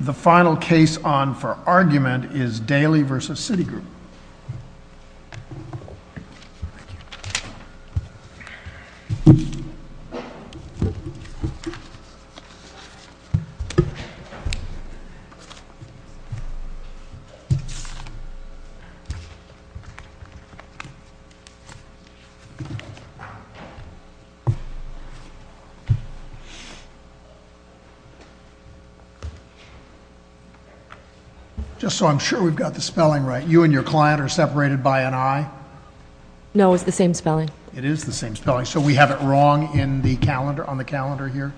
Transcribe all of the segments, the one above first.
The final case on for argument is Daly v. Citigroup. Thank you. Just so I'm sure we've got the spelling right, you and your client are separated by an I? No, it's the same spelling. It is the same spelling. So we have it wrong on the calendar here?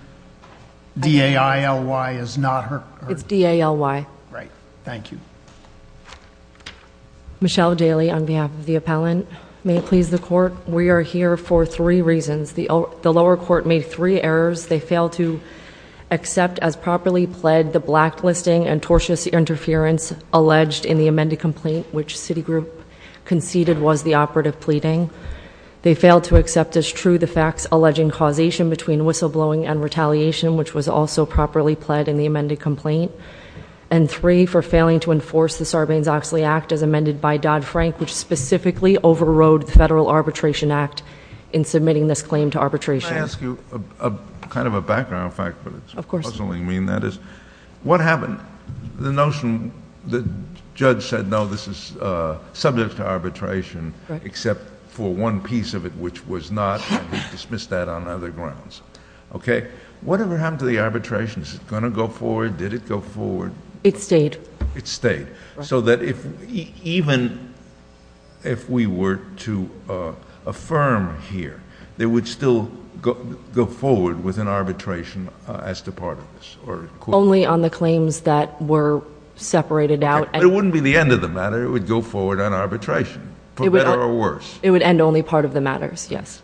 D-A-I-L-Y is not her? It's D-A-L-Y. Right. Thank you. Michelle Daly on behalf of the appellant. May it please the court, we are here for three reasons. The lower court made three errors. They failed to accept as properly pled the blacklisting and tortuous interference alleged in the amended complaint which Citigroup conceded was the operative pleading. They failed to accept as true the facts alleging causation between whistleblowing and retaliation, which was also properly pled in the amended complaint. And three, for failing to enforce the Sarbanes-Oxley Act as amended by Dodd-Frank, which specifically overrode the Federal Arbitration Act in submitting this claim to arbitration. Can I ask you, kind of a background fact, but it's puzzling me, and that is, what happened? The notion, the judge said no, this is subject to arbitration, except for one piece of it which was not, and he dismissed that on other grounds. Okay. Whatever happened to the arbitration? Is it going to go forward? Did it go forward? It stayed. It stayed. Even if we were to affirm here, it would still go forward with an arbitration as to part of this? Only on the claims that were separated out. But it wouldn't be the end of the matter. It would go forward on arbitration, for better or worse. It would end only part of the matters, yes.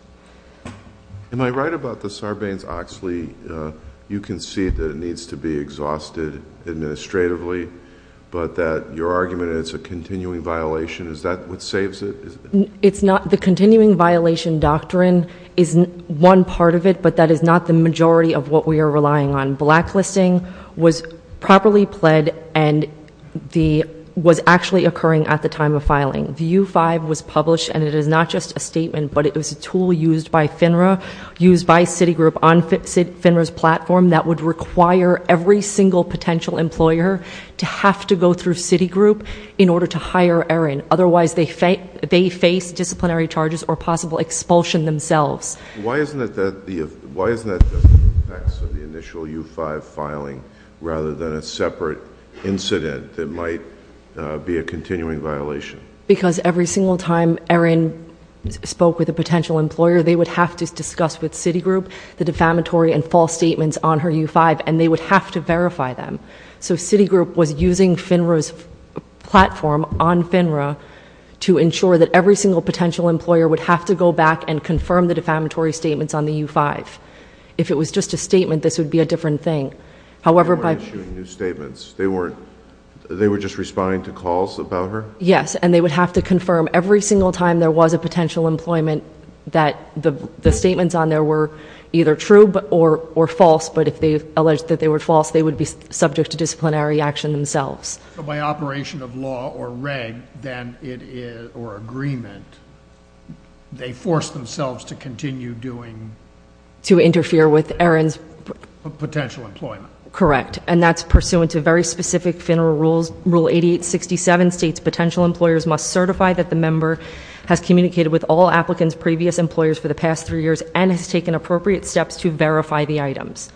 Am I right about the Sarbanes-Oxley? You concede that it needs to be exhausted administratively, but that your argument is a continuing violation. Is that what saves it? It's not. The continuing violation doctrine is one part of it, but that is not the majority of what we are relying on. Blacklisting was properly pled and was actually occurring at the time of filing. The U-5 was published, and it is not just a statement, but it was a tool used by FINRA, used by Citigroup on FINRA's platform, that would require every single potential employer to have to go through Citigroup in order to hire Aaron. Otherwise, they face disciplinary charges or possible expulsion themselves. Why isn't that the effects of the initial U-5 filing rather than a separate incident that might be a continuing violation? Because every single time Aaron spoke with a potential employer, they would have to discuss with Citigroup the defamatory and false statements on her U-5, and they would have to verify them. So Citigroup was using FINRA's platform on FINRA to ensure that every single potential employer would have to go back and confirm the defamatory statements on the U-5. If it was just a statement, this would be a different thing. They weren't issuing new statements. They were just responding to calls about her? Yes, and they would have to confirm every single time there was a potential employment that the statements on there were either true or false, but if they alleged that they were false, they would be subject to disciplinary action themselves. So by operation of law or reg or agreement, they forced themselves to continue doing... To interfere with Aaron's... Potential employment. Correct, and that's pursuant to very specific FINRA rules. Rule 8867 states potential employers must certify that the member has communicated with all applicants' previous employers for the past three years and has taken appropriate steps to verify the items.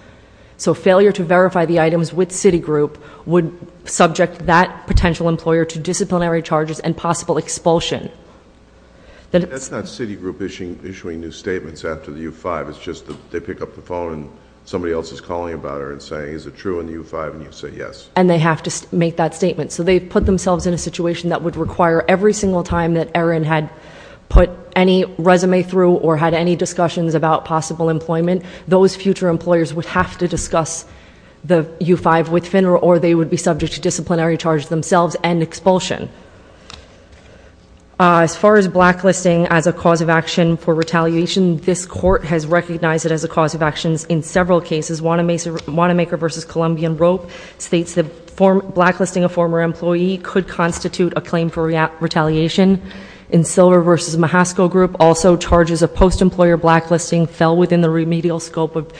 So failure to verify the items with Citigroup would subject that potential employer to disciplinary charges and possible expulsion. That's not Citigroup issuing new statements after the U-5. It's just that they pick up the phone and somebody else is calling about her and saying is it true in the U-5, and you say yes. And they have to make that statement. So they put themselves in a situation that would require every single time that Aaron had put any resume through or had any discussions about possible employment, those future employers would have to discuss the U-5 with FINRA or they would be subject to disciplinary charges themselves and expulsion. As far as blacklisting as a cause of action for retaliation, this Court has recognized it as a cause of action in several cases. Wanamaker v. Columbian Rope states that blacklisting a former employee could constitute a claim for retaliation. And Silver v. Mahasco Group also charges a post-employer blacklisting fell within the remedial scope of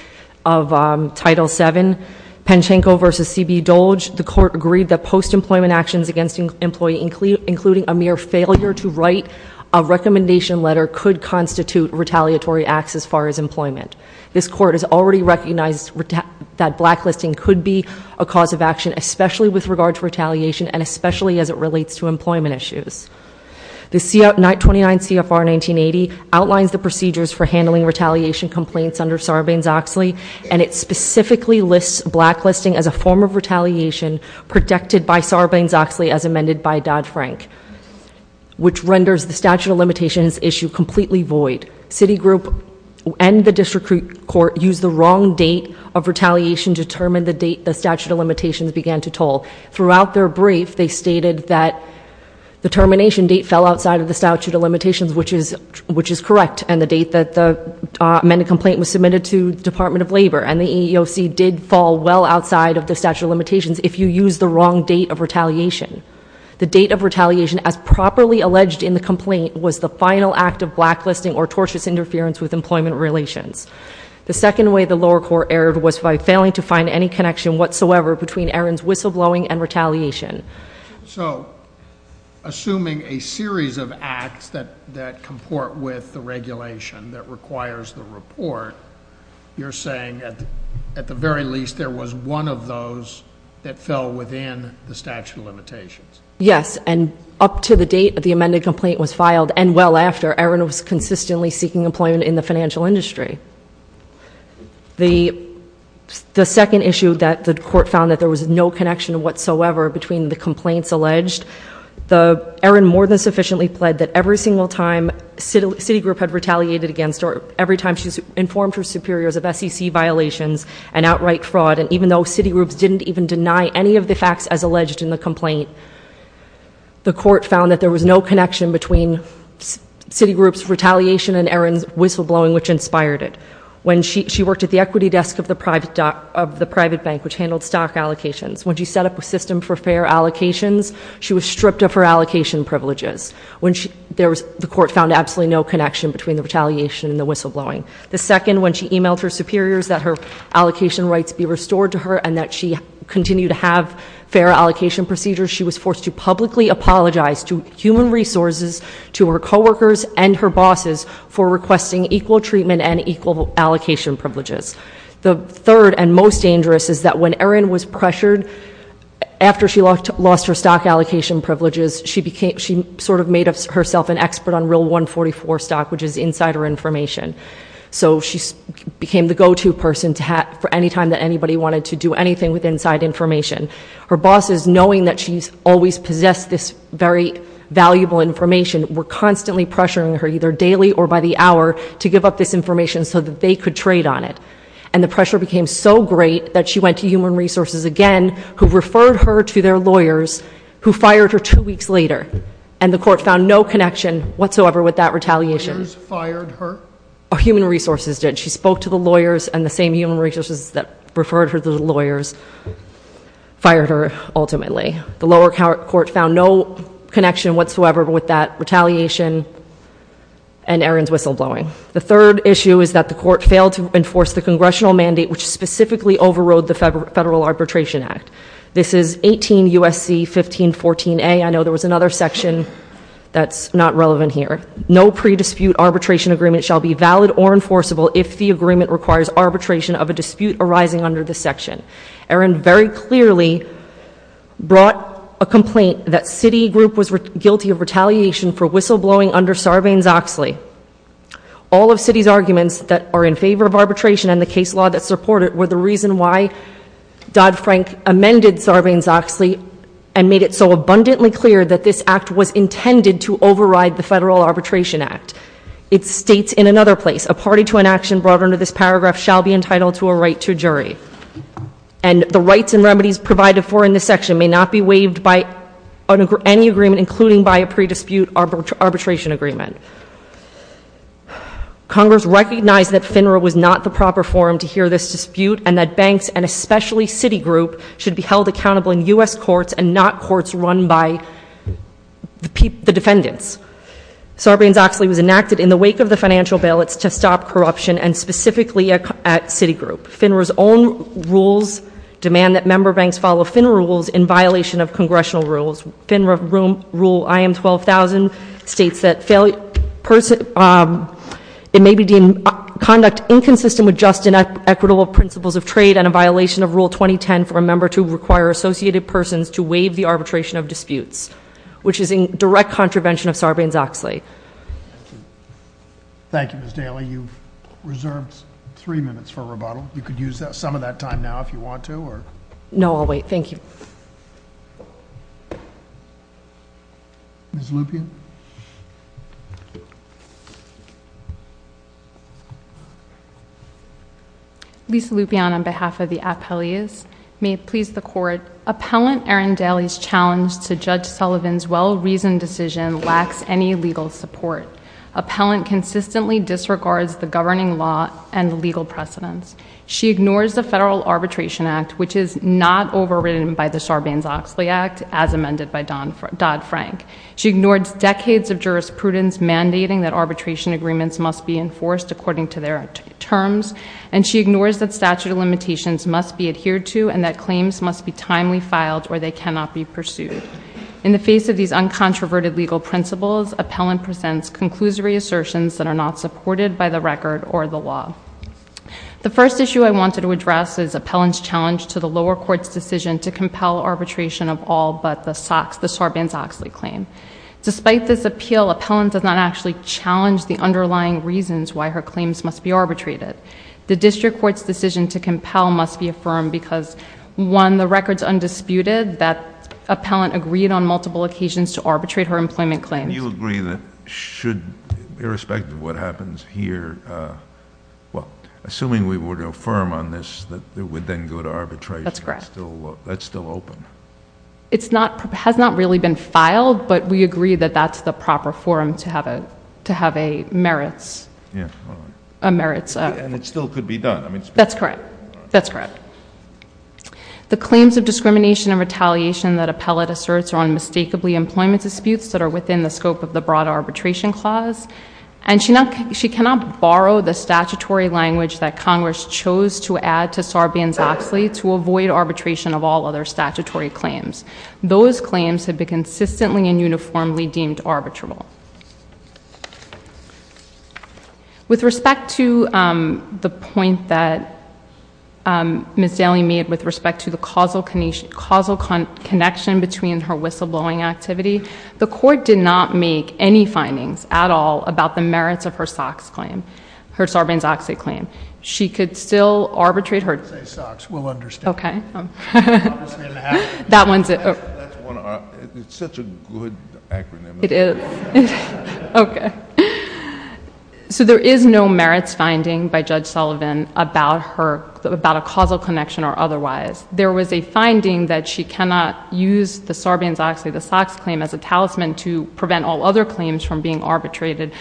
Title VII. Penchenko v. C.B. Dolge, the Court agreed that post-employment actions against an employee, including a mere failure to write a recommendation letter, could constitute retaliatory acts as far as employment. This Court has already recognized that blacklisting could be a cause of action, especially with regard to retaliation and especially as it relates to employment issues. The 29 CFR 1980 outlines the procedures for handling retaliation complaints under Sarbanes-Oxley, and it specifically lists blacklisting as a form of retaliation protected by Sarbanes-Oxley as amended by Dodd-Frank, which renders the statute of limitations issue completely void. Citigroup and the District Court used the wrong date of retaliation to determine the date the statute of limitations began to toll. Throughout their brief, they stated that the termination date fell outside of the statute of limitations, which is correct, and the date that the amended complaint was submitted to the Department of Labor. And the EEOC did fall well outside of the statute of limitations if you used the wrong date of retaliation. The date of retaliation as properly alleged in the complaint was the final act of blacklisting or tortious interference with employment relations. The second way the lower court erred was by failing to find any connection whatsoever between Aaron's whistleblowing and retaliation. So, assuming a series of acts that comport with the regulation that requires the report, you're saying that at the very least there was one of those that fell within the statute of limitations. Yes, and up to the date that the amended complaint was filed, and well after, Aaron was consistently seeking employment in the financial industry. The second issue that the court found that there was no connection whatsoever between the complaints alleged, Aaron more than sufficiently pled that every single time Citigroup had retaliated against her, every time she's informed her superiors of SEC violations and outright fraud, and even though Citigroup didn't even deny any of the facts as alleged in the complaint, the court found that there was no connection between Citigroup's retaliation and Aaron's whistleblowing which inspired it. When she worked at the equity desk of the private bank which handled stock allocations, when she set up a system for fair allocations, she was stripped of her allocation privileges. The court found absolutely no connection between the retaliation and the whistleblowing. The second, when she emailed her superiors that her allocation rights be restored to her and that she continue to have fair allocation procedures, she was forced to publicly apologize to human resources, to her coworkers, and her bosses for requesting equal treatment and equal allocation privileges. The third and most dangerous is that when Aaron was pressured, after she lost her stock allocation privileges, she sort of made herself an expert on real 144 stock which is insider information. So she became the go-to person for any time that anybody wanted to do anything with inside information. Her bosses, knowing that she's always possessed this very valuable information, were constantly pressuring her, either daily or by the hour, to give up this information so that they could trade on it. And the pressure became so great that she went to human resources again, who referred her to their lawyers, who fired her two weeks later. And the court found no connection whatsoever with that retaliation. The lawyers fired her? Human resources did. She spoke to the lawyers and the same human resources that referred her to the lawyers fired her ultimately. The lower court found no connection whatsoever with that retaliation and Aaron's whistleblowing. The third issue is that the court failed to enforce the congressional mandate, which specifically overrode the Federal Arbitration Act. This is 18 U.S.C. 1514A. I know there was another section that's not relevant here. No pre-dispute arbitration agreement shall be valid or enforceable if the agreement requires arbitration of a dispute arising under this section. Aaron very clearly brought a complaint that Citigroup was guilty of retaliation for whistleblowing under Sarbanes-Oxley. All of Citi's arguments that are in favor of arbitration and the case law that support it were the reason why Dodd-Frank amended Sarbanes-Oxley and made it so abundantly clear that this act was intended to override the Federal Arbitration Act. It states in another place, a party to an action brought under this paragraph shall be entitled to a right to jury. And the rights and remedies provided for in this section may not be waived by any agreement, including by a pre-dispute arbitration agreement. Congress recognized that FINRA was not the proper forum to hear this dispute and that banks, and especially Citigroup, should be held accountable in U.S. courts and not courts run by the defendants. Sarbanes-Oxley was enacted in the wake of the financial ballots to stop corruption, and specifically at Citigroup. FINRA's own rules demand that member banks follow FINRA rules in violation of congressional rules. FINRA rule IM12000 states that it may be deemed conduct inconsistent with just and equitable principles of trade and a violation of rule 2010 for a member to require associated persons to waive the arbitration of disputes, which is in direct contravention of Sarbanes-Oxley. Thank you, Ms. Daly. You've reserved three minutes for rebuttal. You could use some of that time now if you want to. No, I'll wait. Thank you. Ms. Lupien. Lisa Lupien on behalf of the appellees. May it please the Court. Appellant Erin Daly's challenge to Judge Sullivan's well-reasoned decision lacks any legal support. Appellant consistently disregards the governing law and legal precedents. She ignores the Federal Arbitration Act, which is not overridden by the Sarbanes-Oxley Act, as amended by Dodd-Frank. She ignores decades of jurisprudence mandating that arbitration agreements must be enforced according to their terms, and she ignores that statute of limitations must be adhered to and that claims must be timely filed or they cannot be pursued. In the face of these uncontroverted legal principles, appellant presents conclusory assertions that are not supported by the record or the law. The first issue I wanted to address is appellant's challenge to the lower court's decision to compel arbitration of all but the Sarbanes-Oxley claim. Despite this appeal, appellant does not actually challenge the underlying reasons why her claims must be arbitrated. The district court's decision to compel must be affirmed because, one, the record is undisputed that appellant agreed on multiple occasions to arbitrate her employment claims. Do you agree that should, irrespective of what happens here, well, assuming we were to affirm on this, that it would then go to arbitration? That's correct. That's still open? It's not, has not really been filed, but we agree that that's the proper forum to have a, to have a merits, a merits. And it still could be done? That's correct. That's correct. The claims of discrimination and retaliation that appellant asserts are unmistakably employment disputes that are within the scope of the broad arbitration clause, and she not, she cannot borrow the statutory language that Congress chose to add to Sarbanes-Oxley to avoid arbitration of all other statutory claims. Those claims have been consistently and uniformly deemed arbitrable. With respect to the point that Ms. Daly made with respect to the causal connection between her whistleblowing activity, the court did not make any findings at all about the merits of her SOX claim, her Sarbanes-Oxley claim. She could still arbitrate her. I didn't say SOX. We'll understand. Okay. That's one of our, it's such a good acronym. It is. Okay. So there is no merits finding by Judge Sullivan about her, about a causal connection or otherwise. There was a finding that she cannot use the Sarbanes-Oxley, the SOX claim as a talisman to prevent all other claims from being arbitrated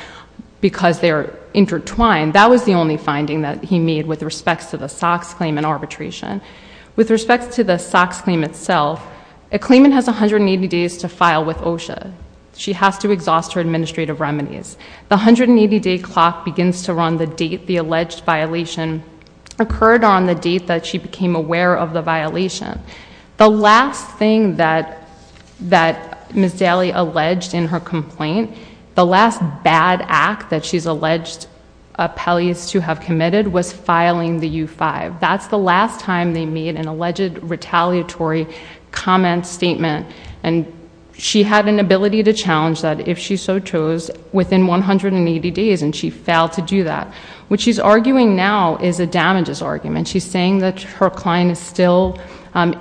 because they are intertwined. That was the only finding that he made with respect to the SOX claim and arbitration. With respect to the SOX claim itself, a claimant has 180 days to file with OSHA. She has to exhaust her administrative remedies. The 180-day clock begins to run the date the alleged violation occurred on the date that she became aware of the violation. The last thing that Ms. Daly alleged in her complaint, the last bad act that she's alleged appellees to have committed was filing the U-5. That's the last time they made an alleged retaliatory comment statement. And she had an ability to challenge that if she so chose within 180 days, and she failed to do that. What she's arguing now is a damages argument. She's saying that her client is still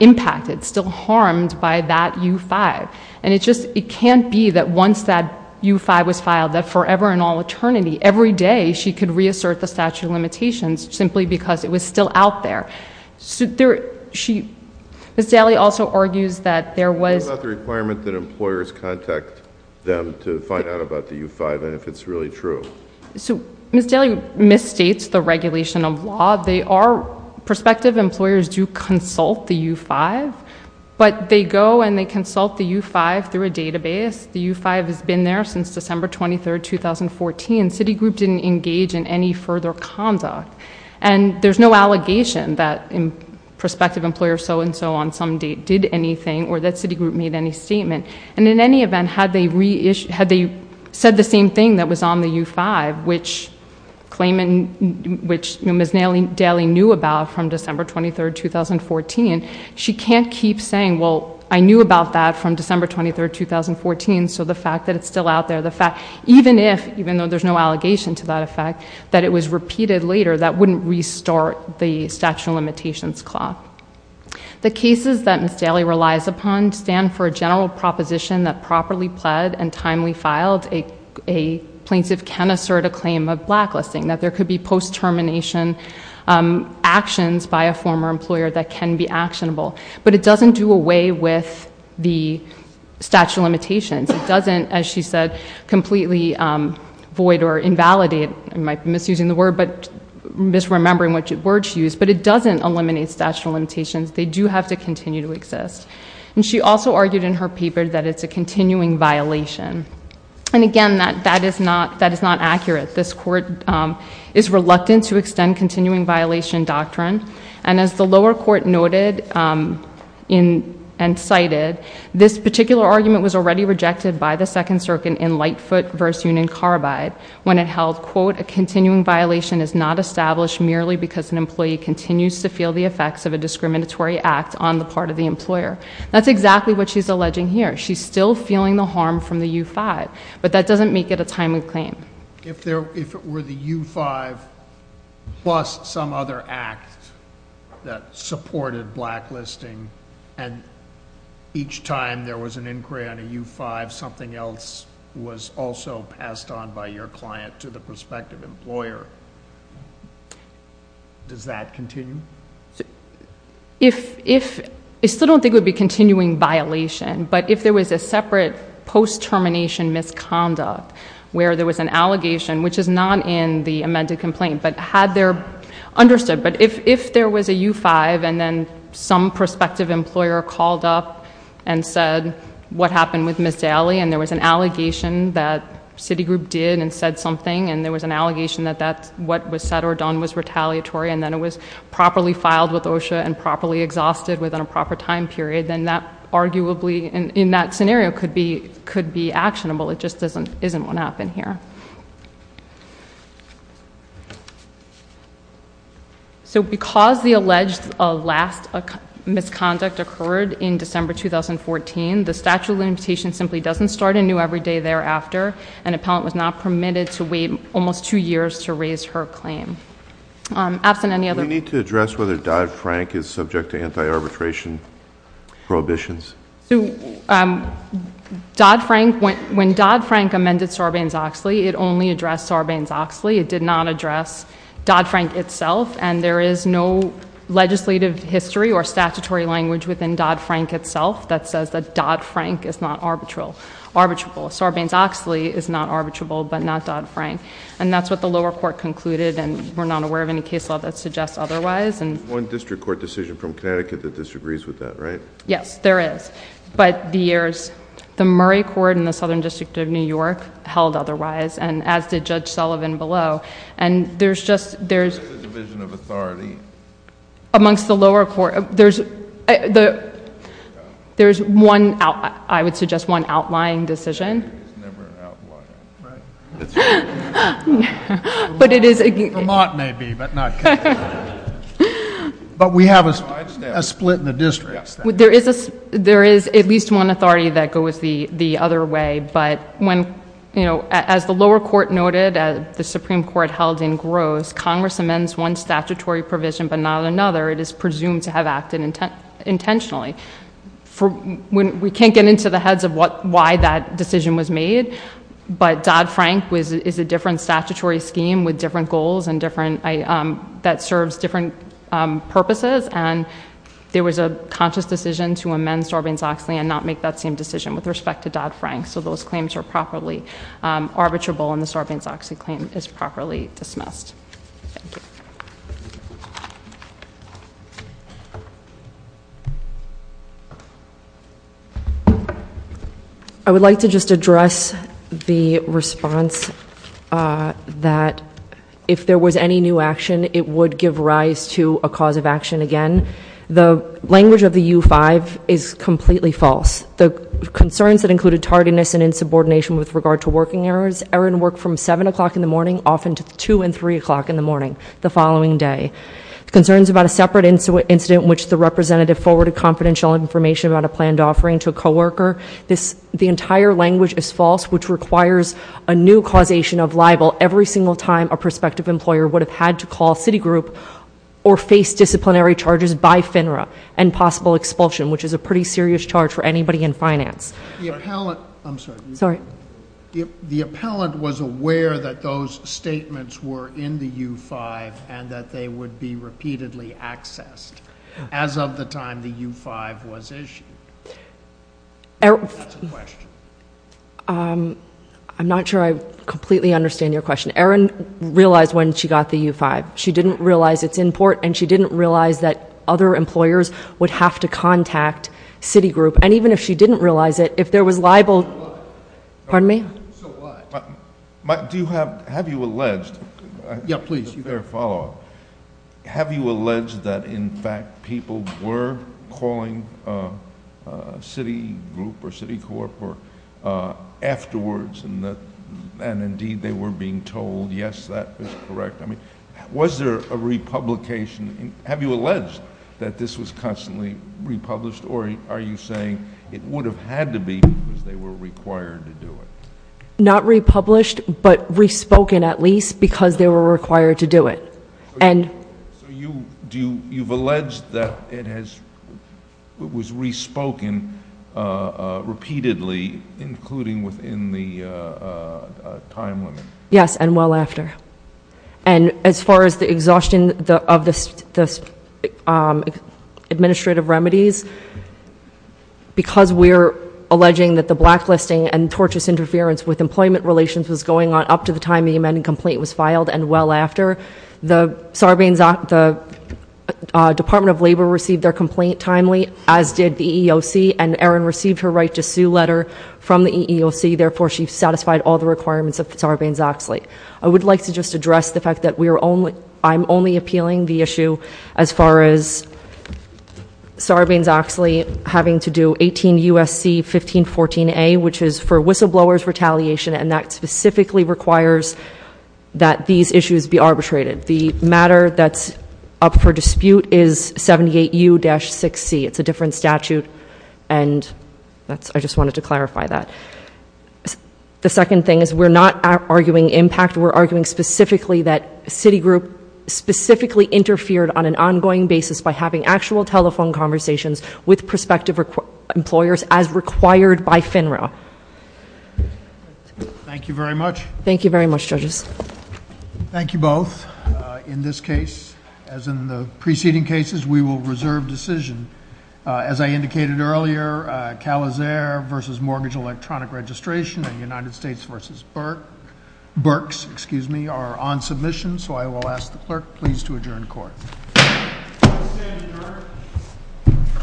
impacted, still harmed by that U-5. And it just can't be that once that U-5 was filed, that forever and all eternity, every day she could reassert the statute of limitations simply because it was still out there. Ms. Daly also argues that there was... What about the requirement that employers contact them to find out about the U-5 and if it's really true? Ms. Daly misstates the regulation of law. They are prospective. Employers do consult the U-5, but they go and they consult the U-5 through a database. The U-5 has been there since December 23, 2014. Citigroup didn't engage in any further conduct. And there's no allegation that prospective employers so-and-so on some date did anything or that Citigroup made any statement. And in any event, had they said the same thing that was on the U-5, which Ms. Daly knew about from December 23, 2014, she can't keep saying, well, I knew about that from December 23, 2014, so the fact that it's still out there, the fact... even if, even though there's no allegation to that effect, that it was repeated later, that wouldn't restart the statute of limitations clause. The cases that Ms. Daly relies upon stand for a general proposition that properly pled and timely filed. A plaintiff can assert a claim of blacklisting, that there could be post-termination actions by a former employer that can be actionable. But it doesn't do away with the statute of limitations. It doesn't, as she said, completely void or invalidate... I might be misusing the word, but... misremembering what words she used, but it doesn't eliminate statute of limitations. They do have to continue to exist. And she also argued in her paper that it's a continuing violation. And again, that is not accurate. This court is reluctant to extend continuing violation doctrine. And as the lower court noted and cited, this particular argument was already rejected by the Second Circuit in Lightfoot v. Union Carbide, when it held, quote, a continuing violation is not established merely because an employee continues to feel the effects of a discriminatory act on the part of the employer. That's exactly what she's alleging here. She's still feeling the harm from the U-5, but that doesn't make it a timely claim. If it were the U-5 plus some other act that supported blacklisting, and each time there was an inquiry on a U-5, something else was also passed on by your client to the prospective employer, does that continue? I still don't think it would be continuing violation, but if there was a separate post-termination misconduct where there was an allegation, which is not in the amended complaint, but had there, understood, but if there was a U-5 and then some prospective employer called up and said, what happened with Ms. Daly, and there was an allegation that Citigroup did and said something, and there was an allegation that what was said or done was retaliatory, and then it was properly filed with OSHA and properly exhausted within a proper time period, then that arguably, in that scenario, could be actionable. It just isn't what happened here. So because the alleged last misconduct occurred in December 2014, the statute of limitations simply doesn't start anew every day thereafter, and an appellant was not permitted to wait almost two years to raise her claim. Do we need to address whether Dodd-Frank is subject to anti-arbitration prohibitions? When Dodd-Frank amended Sarbanes-Oxley, it only addressed Sarbanes-Oxley. It did not address Dodd-Frank itself, and there is no legislative history or statutory language within Dodd-Frank itself that says that Dodd-Frank is not arbitrable. Sarbanes-Oxley is not arbitrable, but not Dodd-Frank, and that's what the lower court concluded, and we're not aware of any case law that suggests otherwise. There's one district court decision from Connecticut that disagrees with that, right? Yes, there is, but the Murray Court in the Southern District of New York held otherwise, and as did Judge Sullivan below, and there's just... There's a division of authority. Amongst the lower court, there's one, I would suggest, one outlying decision. It's never outlying, right? Vermont may be, but not Connecticut. But we have a split in the district. There is at least one authority that goes the other way, but as the lower court noted, as the Supreme Court held in Gross, Congress amends one statutory provision but not another. It is presumed to have acted intentionally. We can't get into the heads of why that decision was made, but Dodd-Frank is a different statutory scheme with different goals and different... that serves different purposes, and there was a conscious decision to amend Sarbanes-Oxley and not make that same decision with respect to Dodd-Frank, so those claims are properly arbitrable and the Sarbanes-Oxley claim is properly dismissed. Thank you. I would like to just address the response that if there was any new action, it would give rise to a cause of action again. The language of the U-5 is completely false. The concerns that included tardiness and insubordination with regard to working hours are in work from 7 o'clock in the morning often to 2 and 3 o'clock in the morning the following day. Concerns about a separate incident in which the representative forwarded confidential information about a planned offering to a co-worker. The entire language is false, which requires a new causation of libel every single time a prospective employer would have had to call Citigroup or face disciplinary charges by FINRA, and possible expulsion, which is a pretty serious charge for anybody in finance. The appellant was aware that those statements were in the U-5 and that they would be repeatedly accessed as of the time the U-5 was issued. That's a question. I'm not sure I completely understand your question. Erin realized when she got the U-5. She didn't realize it's in port, and she didn't realize that other employers would have to contact Citigroup. And even if she didn't realize it, if there was libel. Pardon me? Do you have, have you alleged? Yeah, please. Fair follow-up. Have you alleged that in fact people were calling Citigroup or Citicorp afterwards and indeed they were being told yes, that is correct? I mean, was there a republication? Have you alleged that this was constantly republished, or are you saying it would have had to be because they were required to do it? Not republished, but respoken at least because they were required to do it. So you've alleged that it was respoken repeatedly, including within the time limit? Yes, and well after. And as far as the exhaustion of the administrative remedies, because we're alleging that the blacklisting and tortious interference with employment relations was going on up to the time the amended complaint was filed and well after, the Department of Labor received their complaint timely, as did the EEOC, and Erin received her right to sue letter from the EEOC. Therefore, she satisfied all the requirements of Sarbanes-Oxley. I would like to just address the fact that I'm only appealing the issue as far as Sarbanes-Oxley having to do 18 U.S.C. 1514A, which is for whistleblowers retaliation, and that specifically requires that these issues be arbitrated. The matter that's up for dispute is 78U-6C. It's a different statute, and I just wanted to clarify that. The second thing is we're not arguing impact. We're arguing specifically that Citigroup specifically interfered on an ongoing basis by having actual telephone conversations with prospective employers as required by FINRA. Thank you very much. Thank you very much, judges. Thank you both. In this case, as in the preceding cases, we will reserve decision. As I indicated earlier, Calizare versus Mortgage Electronic Registration and United States versus Berks are on submission, so I will ask the clerk please to adjourn court. I'll stand adjourned.